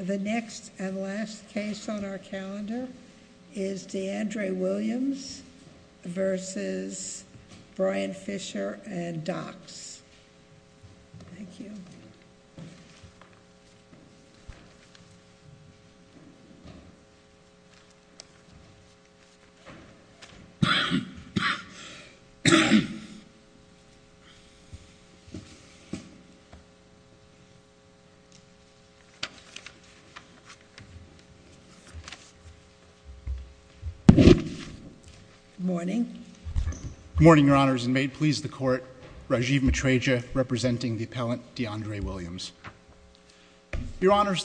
The next and last case on our calendar is D'Andre Williams v. Brian Fischer and Dox.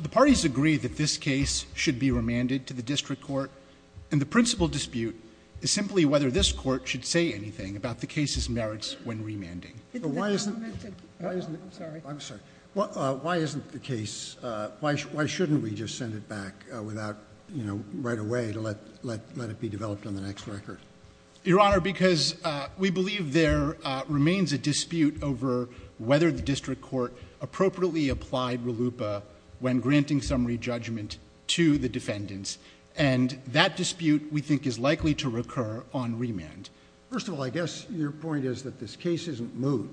The parties agree that this case should be remanded to the district court, and the principal and district court. The parties support the case. Why shouldn't we just send it back without, you know, right away to let it be developed on the next record? Your Honor, because we believe there remains a dispute over whether the district court appropriately applied RLUIPA when granting summary judgment to the defendants, and that dispute we think is likely to recur on remand. First of all, I guess your point is that this case isn't moved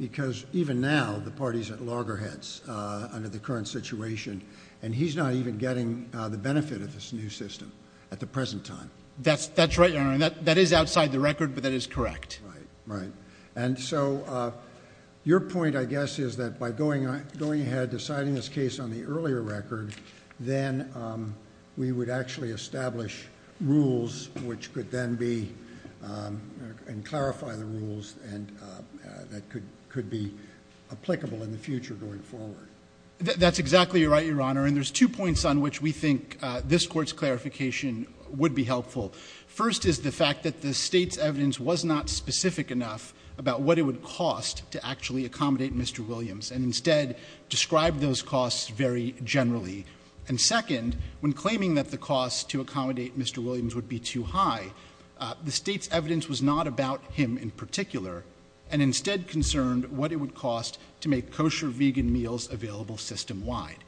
because even now the parties at loggerheads under the current situation, and he's not even getting the benefit of this new system at the present time. That's right, Your Honor, and that is outside the record, but that is correct. Right, right. And so your point, I guess, is that by going ahead, deciding this case on the earlier record, then we would actually establish rules which could then be and clarify the rules and that could be applicable in the future going forward. That's exactly right, Your Honor, and there's two points on which we think this Court's clarification would be helpful. First is the fact that the State's evidence was not specific enough about what it would cost to actually accommodate Mr. Williams, and instead described those costs very generally. And second, when claiming that the cost to accommodate Mr. Williams would be too high, the State's evidence was not about him in particular, and instead concerned what it would cost to make kosher vegan meals available system-wide.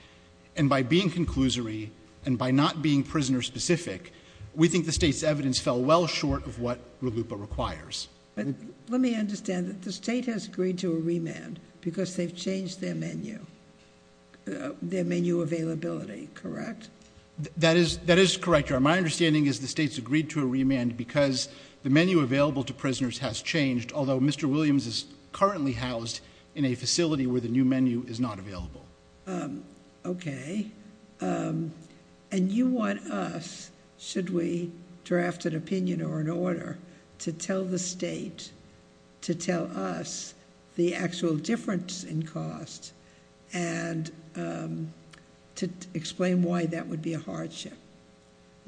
And by being conclusory, and by not being prisoner-specific, we think the State's evidence fell well short of what RLUIPA requires. Let me understand. The State has agreed to a remand because they've changed their menu availability, correct? That is correct, Your Honor. My understanding is the State's agreed to a remand because the menu available to prisoners has changed, although Mr. Williams is currently housed in a facility where the new menu is not available. Okay. And you want us, should we draft an opinion or an order, to tell the State, to tell us the actual difference in cost, and to explain why that would be a hardship?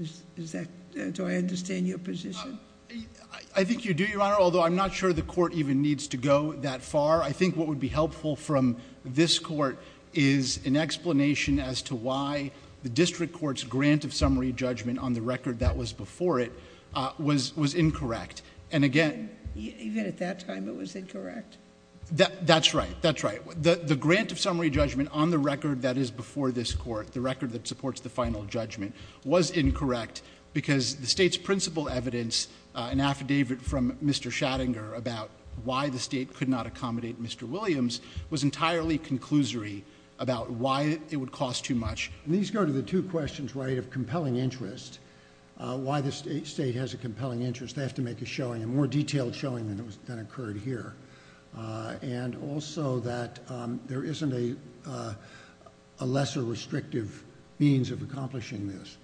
Do I understand your position? I think you do, Your Honor, although I'm not sure the Court even needs to go that far. I think what would be helpful from this Court is an explanation as to why the District Court's grant of summary judgment on the record that was before it was incorrect. And again... Even at that time it was incorrect? That's right. That's right. The grant of summary judgment on the record that is before this Court, the record that supports the final judgment, was incorrect because the State's principal evidence, an affidavit from Mr. Schattinger about why the State could not accommodate Mr. Williams, was entirely conclusory about why it would cost too much. These go to the two questions, right, of compelling interest, why the State has a compelling interest. They have to make a showing, a more detailed showing, than occurred here. And also that there isn't a lesser restrictive means of accomplishing this.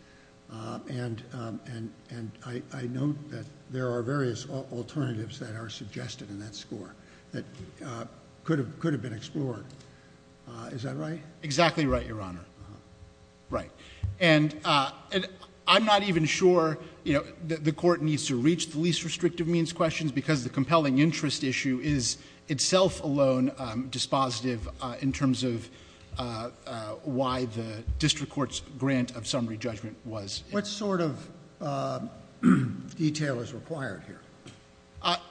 And I note that there are various alternatives that are suggested in that score that could have been explored. Is that right? Exactly right, Your Honor. Right. And I'm not even sure, you know, the Court needs to reach the least restrictive means questions because the compelling interest issue is itself alone dispositive in terms of why the district court's grant of summary judgment was incorrect. What sort of detail is required here?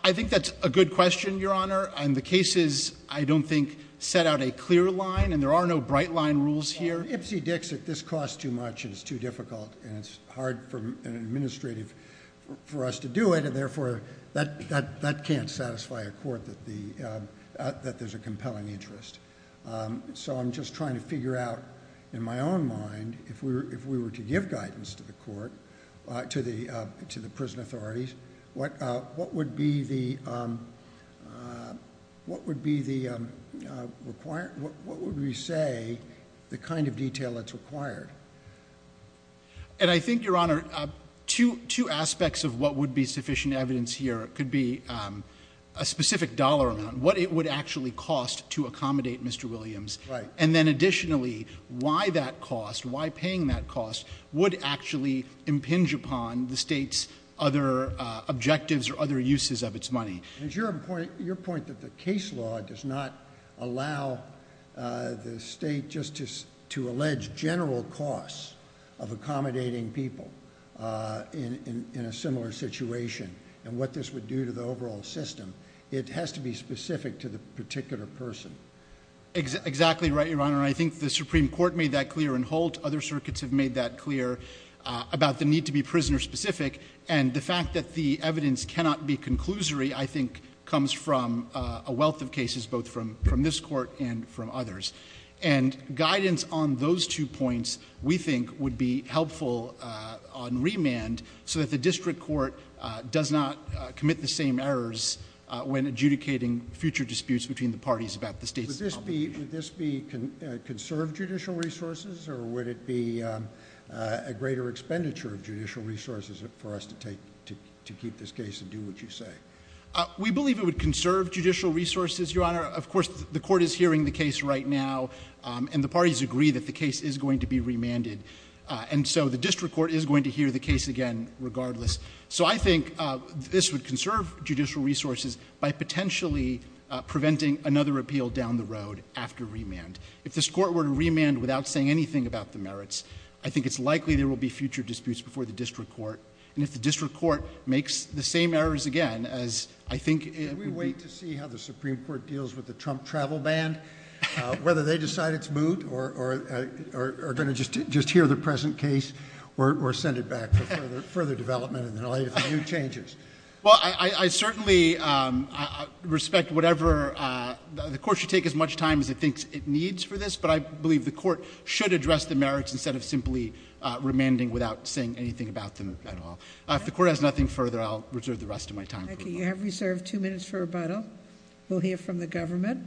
I think that's a good question, Your Honor. And the cases, I don't think, set out a clear line and there are no bright line rules here. If it's Ipsy-Dixit, this costs too much and it's too difficult and it's hard for an administrative for us to do it and therefore that can't satisfy a court that there's a compelling interest. So I'm just trying to figure out, in my own mind, if we were to give guidance to the court, to the prison authorities, what would be the requirement, what would we say the kind of detail that's required? And I think, Your Honor, two aspects of what would be sufficient evidence here could be a specific dollar amount, what it would actually cost to accommodate Mr. Williams and then additionally why that cost, why paying that cost would actually impinge upon the state's other objectives or other uses of its money. And it's your point that the case law does not allow the state just to allege general costs of accommodating people in a similar situation and what this would do to the overall system. It has to be specific to the particular person. Exactly right, Your Honor. I think the Supreme Court made that clear in Holt. Other circuits have made that clear about the need to be prisoner-specific and the fact that the evidence cannot be conclusory, I think, comes from a wealth of cases both from this Court and from others. And guidance on those two points, we think, would be helpful on remand so that the district court does not commit the same errors when adjudicating future disputes between the parties about the state's obligation. Would this be conserved judicial resources or would it be a greater expenditure of judicial resources for us to keep this case and do what you say? We believe it would conserve judicial resources, Your Honor. Of course, the Court is hearing the case right now and the parties agree that the case is going to be remanded. And so the district court is going to hear the case again regardless. So I think this would conserve judicial resources by potentially preventing another appeal down the road after remand. If this Court were to remand without saying anything about the merits, I think it's likely there will be future disputes before the district court. And if the district court makes the same errors again, as I think it would be— Can we wait to see how the Supreme Court deals with the Trump travel ban? Whether they decide it's moot or are going to just hear the present case or send it back for further development and relate it to new changes? Well, I certainly respect whatever—the Court should take as much time as it thinks it needs for this, but I believe the Court should address the merits instead of simply remanding without saying anything about them at all. If the Court has nothing further, I'll reserve the rest of my time for rebuttal. Thank you. You have reserved two minutes for rebuttal. We'll hear from the government.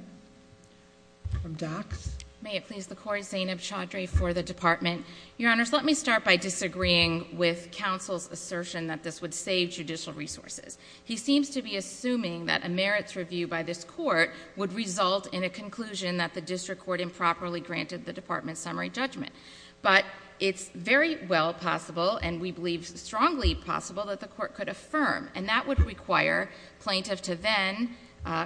From Dox. May it please the Court, Zainab Chaudhry for the Department. Your Honors, let me start by disagreeing with counsel's assertion that this would save judicial resources. He seems to be assuming that a merits review by this Court would result in a conclusion that the district court improperly granted the Department's summary judgment. But it's very well possible, and we believe strongly possible, that the Court could affirm. And that would require plaintiff to then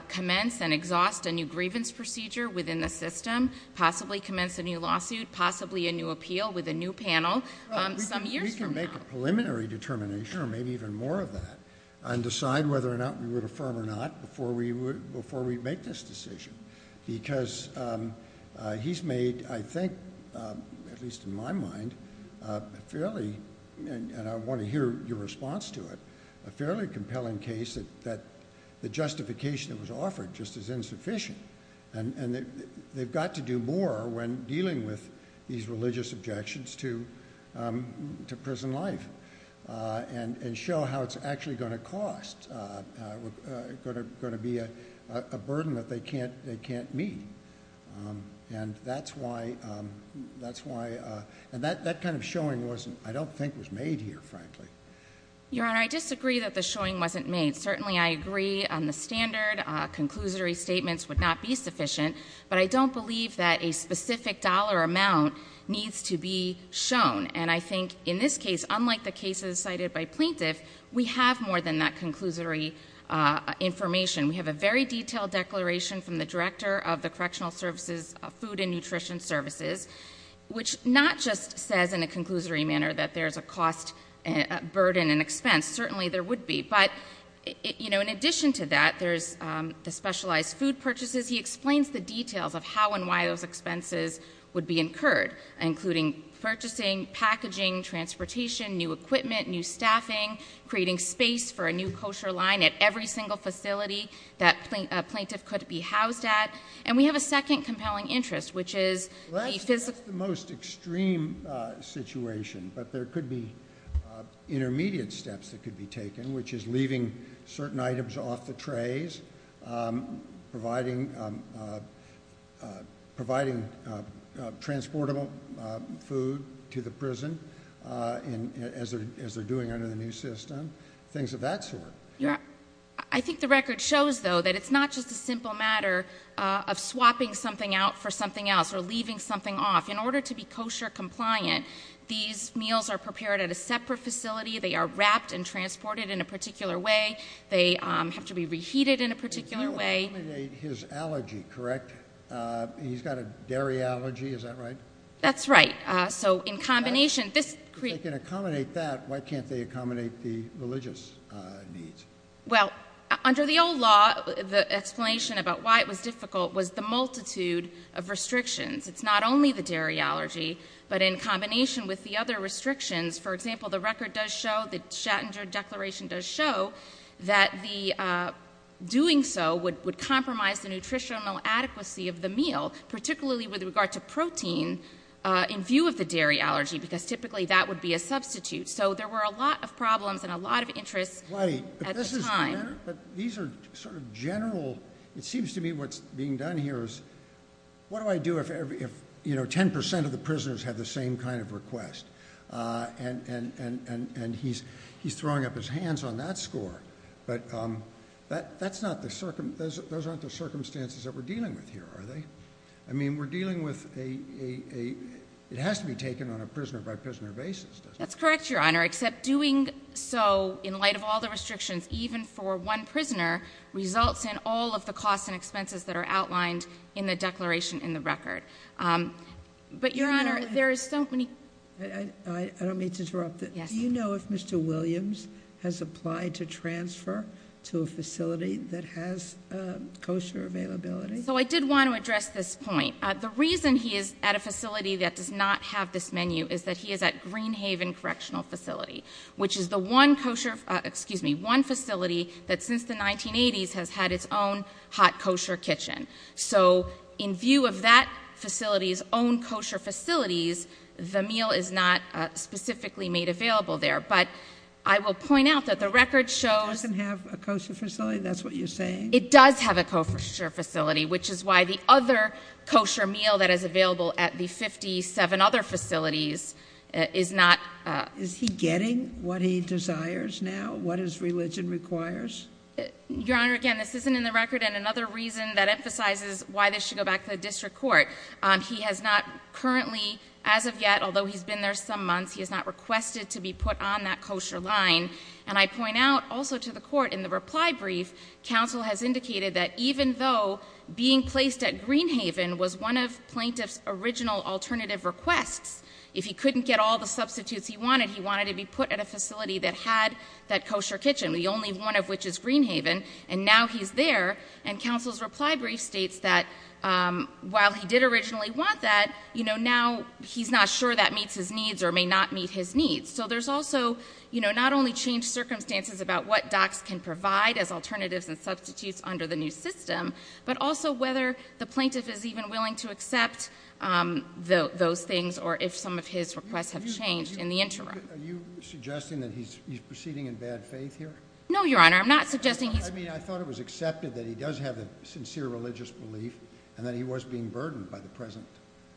commence and exhaust a new grievance procedure within the system, possibly commence a new lawsuit, possibly a new appeal with a new panel some years from now. We can make a preliminary determination, or maybe even more of that, and decide whether or not we would affirm or not before we make this decision. Because he's made, I think, at least in my mind, a fairly, and I want to hear your response to it, a fairly compelling case that the justification that was offered just is insufficient. And they've got to do more when dealing with these religious objections to prison life, and show how it's actually going to cost, going to be a burden that they can't meet. And that's why, and that kind of showing wasn't, I don't think was made here, frankly. Your Honor, I disagree that the showing wasn't made. Certainly I agree on the standard, conclusory statements would not be sufficient, but I don't believe that a specific dollar amount needs to be shown. And I think in this case, unlike the cases cited by plaintiff, we have more than that conclusory information. We have a very detailed declaration from the Director of the Correctional Services, Food and Nutrition Services, which not just says in a conclusory manner that there's a cost, burden and expense. Certainly there would be. But, you know, in addition to that, there's the specialized food purchases. He explains the details of how and why those expenses would be incurred, including purchasing, packaging, transportation, new equipment, new staffing, creating space for a new kosher line at every single facility that a plaintiff could be housed at. And we have a second compelling interest, which is the physical- That's the most extreme situation, but there could be intermediate steps that could be taken, which is leaving certain items off the trays, providing transportable food to the prison, as they're doing under the new system, things of that sort. I think the record shows, though, that it's not just a simple matter of swapping something out for something else or leaving something off. In order to be kosher-compliant, these meals are prepared at a separate facility. They are wrapped and transported in a particular way. They have to be reheated in a particular way. You eliminate his allergy, correct? He's got a dairy allergy, is that right? That's right. If they can accommodate that, why can't they accommodate the religious needs? Well, under the old law, the explanation about why it was difficult was the multitude of restrictions. It's not only the dairy allergy, but in combination with the other restrictions, for example, the record does show, the Schattinger Declaration does show, that doing so would compromise the nutritional adequacy of the meal, particularly with regard to protein, in view of the dairy allergy, because typically that would be a substitute. So there were a lot of problems and a lot of interests at the time. These are sort of general, it seems to me what's being done here is, what do I do if 10% of the prisoners have the same kind of request? He's throwing up his hands on that score. But those aren't the circumstances that we're dealing with here, are they? I mean, we're dealing with a, it has to be taken on a prisoner by prisoner basis, doesn't it? That's correct, Your Honor, except doing so in light of all the restrictions, even for one prisoner, results in all of the costs and expenses that are outlined in the declaration in the record. But Your Honor, there is so many- I don't mean to interrupt. Yes. Do you know if Mr. Williams has applied to transfer to a facility that has kosher availability? So I did want to address this point. The reason he is at a facility that does not have this menu is that he is at Green Haven Correctional Facility, which is the one kosher, excuse me, one facility that since the 1980s has had its own hot kosher kitchen. So in view of that facility's own kosher facilities, the meal is not specifically made available there. But I will point out that the record shows- It doesn't have a kosher facility, that's what you're saying? It does have a kosher facility, which is why the other kosher meal that is available at the 57 other facilities is not- Is he getting what he desires now, what his religion requires? Your Honor, again, this isn't in the record, and another reason that emphasizes why this should go back to the district court. He has not currently, as of yet, although he's been there some months, he has not requested to be put on that kosher line. And I point out also to the court, in the reply brief, counsel has indicated that even though being placed at Green Haven was one of plaintiff's original alternative requests, if he couldn't get all the substitutes he wanted, he wanted to be put at a facility that had that kosher kitchen, the only one of which is Green Haven. And now he's there, and counsel's reply brief states that while he did originally want that, now he's not sure that meets his needs or may not meet his needs. So there's also not only changed circumstances about what docs can provide as alternatives and substitutes under the new system. But also whether the plaintiff is even willing to accept those things or if some of his requests have changed in the interim. Are you suggesting that he's proceeding in bad faith here? No, Your Honor, I'm not suggesting he's- I mean, I thought it was accepted that he does have a sincere religious belief and that he was being burdened by the present.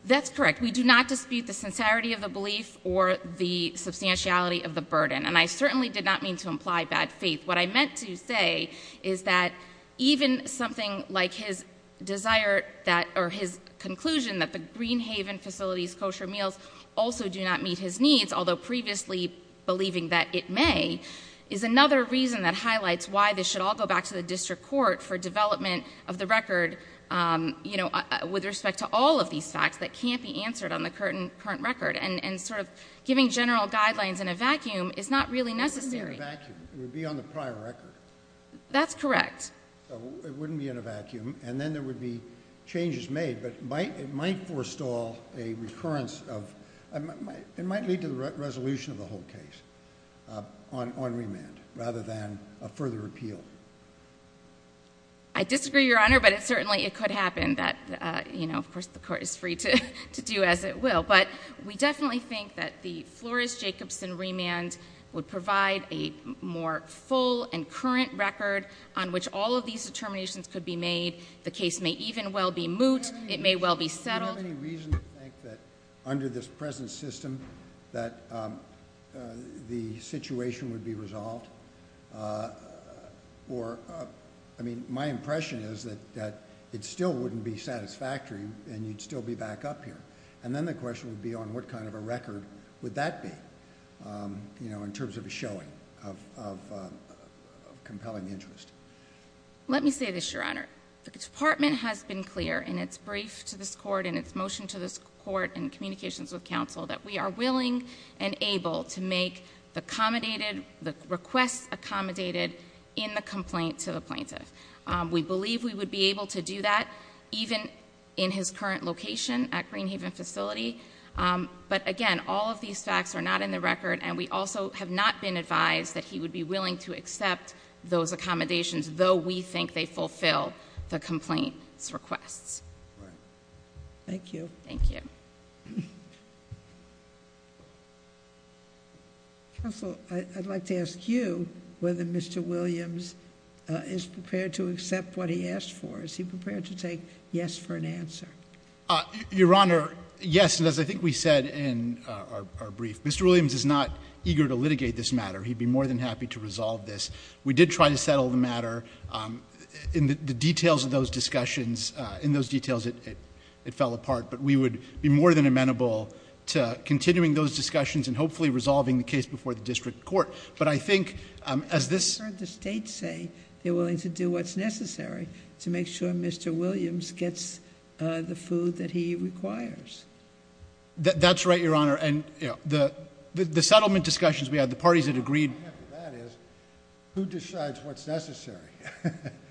That's correct. We do not dispute the sincerity of the belief or the substantiality of the burden. And I certainly did not mean to imply bad faith. What I meant to say is that even something like his desire or his conclusion that the Green Haven facilities kosher meals also do not meet his needs. Although previously believing that it may is another reason that highlights why this should all go back to the district court for development of the record with respect to all of these facts that can't be answered on the current record. And sort of giving general guidelines in a vacuum is not really necessary. It wouldn't be in a vacuum, it would be on the prior record. That's correct. So it wouldn't be in a vacuum, and then there would be changes made, but it might forestall a recurrence of, it might lead to the resolution of the whole case on remand rather than a further appeal. I disagree, Your Honor, but it certainly, it could happen that, of course, the court is free to do as it will. But we definitely think that the Flores-Jacobson remand would provide a more full and current record on which all of these determinations could be made. The case may even well be moot, it may well be settled. Do you have any reason to think that under this present system that the situation would be resolved? Or, I mean, my impression is that it still wouldn't be satisfactory and you'd still be back up here. And then the question would be on what kind of a record would that be in terms of a showing of compelling interest. Let me say this, Your Honor. The department has been clear in its brief to this court, in its motion to this court in communications with council, that we are willing and able to make the requested accommodated in the complaint to the plaintiff. We believe we would be able to do that even in his current location at Green Haven facility. But again, all of these facts are not in the record, and we also have not been advised that he would be willing to accept those accommodations, though we think they fulfill the complaint's requests. Thank you. Thank you. Counsel, I'd like to ask you whether Mr. Williams is prepared to accept what he asked for. Is he prepared to take yes for an answer? Your Honor, yes, and as I think we said in our brief, Mr. Williams is not eager to litigate this matter. He'd be more than happy to resolve this. We did try to settle the matter. In the details of those discussions, in those details, it fell apart. But we would be more than amenable to continuing those discussions and hopefully resolving the case before the district court. But I think as this- I've heard the state say they're willing to do what's necessary to make sure Mr. Williams gets the food that he requires. That's right, Your Honor, and the settlement discussions we had, the parties had agreed- The point of that is, who decides what's necessary?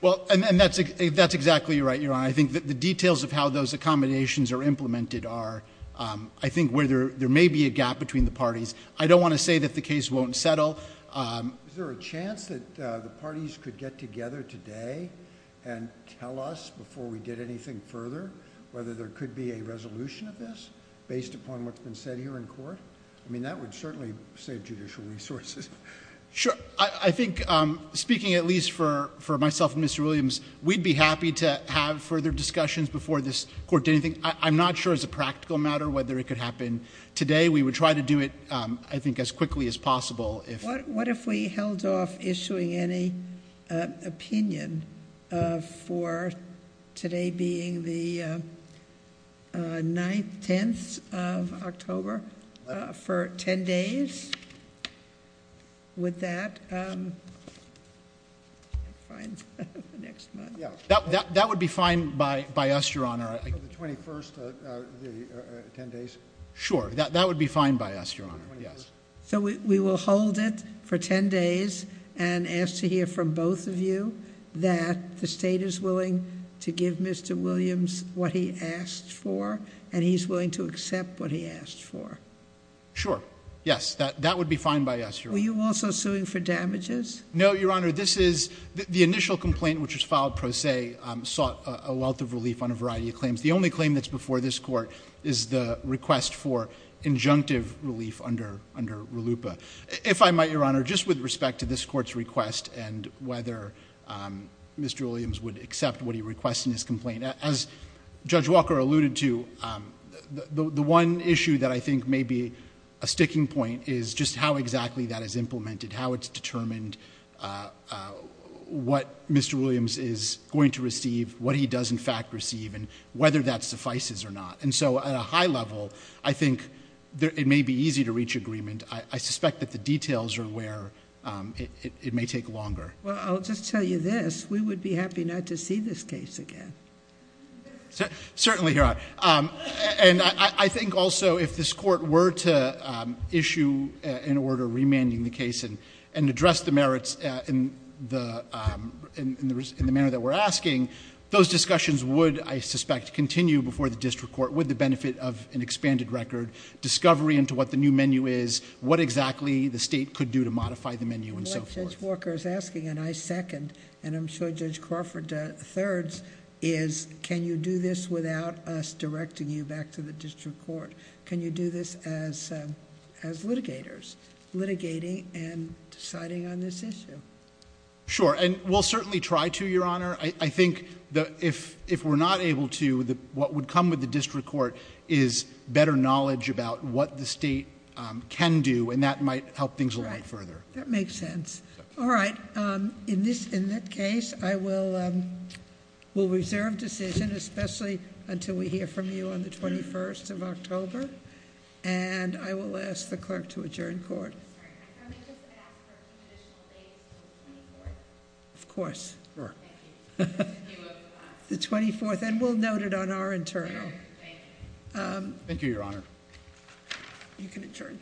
Well, and that's exactly right, Your Honor. I think that the details of how those accommodations are implemented are, I think, where there may be a gap between the parties. I don't want to say that the case won't settle. Is there a chance that the parties could get together today and tell us before we did anything further whether there could be a resolution of this based upon what's been said here in court? I mean, that would certainly save judicial resources. Sure, I think, speaking at least for myself and Mr. Williams, we'd be happy to have further discussions before this court did anything. I'm not sure as a practical matter whether it could happen today. We would try to do it, I think, as quickly as possible if- What if we held off issuing any opinion for today being the 9th, 10th of October for ten days? Would that, find the next month. Yeah, that would be fine by us, Your Honor. For the 21st, the ten days? Sure, that would be fine by us, Your Honor, yes. So we will hold it for ten days and ask to hear from both of you that the state is willing to give Mr. Williams what he asked for and he's willing to accept what he asked for. Sure, yes, that would be fine by us, Your Honor. Were you also suing for damages? No, Your Honor, this is, the initial complaint which was filed pro se sought a wealth of relief on a variety of claims. The only claim that's before this court is the request for injunctive relief under RLUIPA. If I might, Your Honor, just with respect to this court's request and whether Mr. Williams would accept what he requests in his complaint. As Judge Walker alluded to, the one issue that I think may be a sticking point is just how exactly that is implemented, how it's determined what Mr. Williams is going to receive, what he does in fact receive, and whether that suffices or not. And so at a high level, I think it may be easy to reach agreement. I suspect that the details are where it may take longer. Well, I'll just tell you this, we would be happy not to see this case again. Certainly, Your Honor, and I think also if this court were to issue an order remanding the case and address the merits in the manner that we're asking, those discussions would, I suspect, continue before the district court with the benefit of an expanded record, discovery into what the new menu is, what exactly the state could do to modify the menu, and so forth. What Judge Walker is asking, and I second, and I'm sure Judge Crawford thirds, is can you do this without us directing you back to the district court? Can you do this as litigators, litigating and deciding on this issue? Sure, and we'll certainly try to, Your Honor. I think that if we're not able to, what would come with the district court is better knowledge about what the state can do, and that might help things a lot further. That makes sense. All right, in that case, I will reserve decision, especially until we hear from you on the 21st of October, and I will ask the clerk to adjourn court. I'm sorry, can I just ask for a few additional days until the 24th? Of course. Sure. The 24th, and we'll note it on our internal. Thank you, Your Honor. You can adjourn court.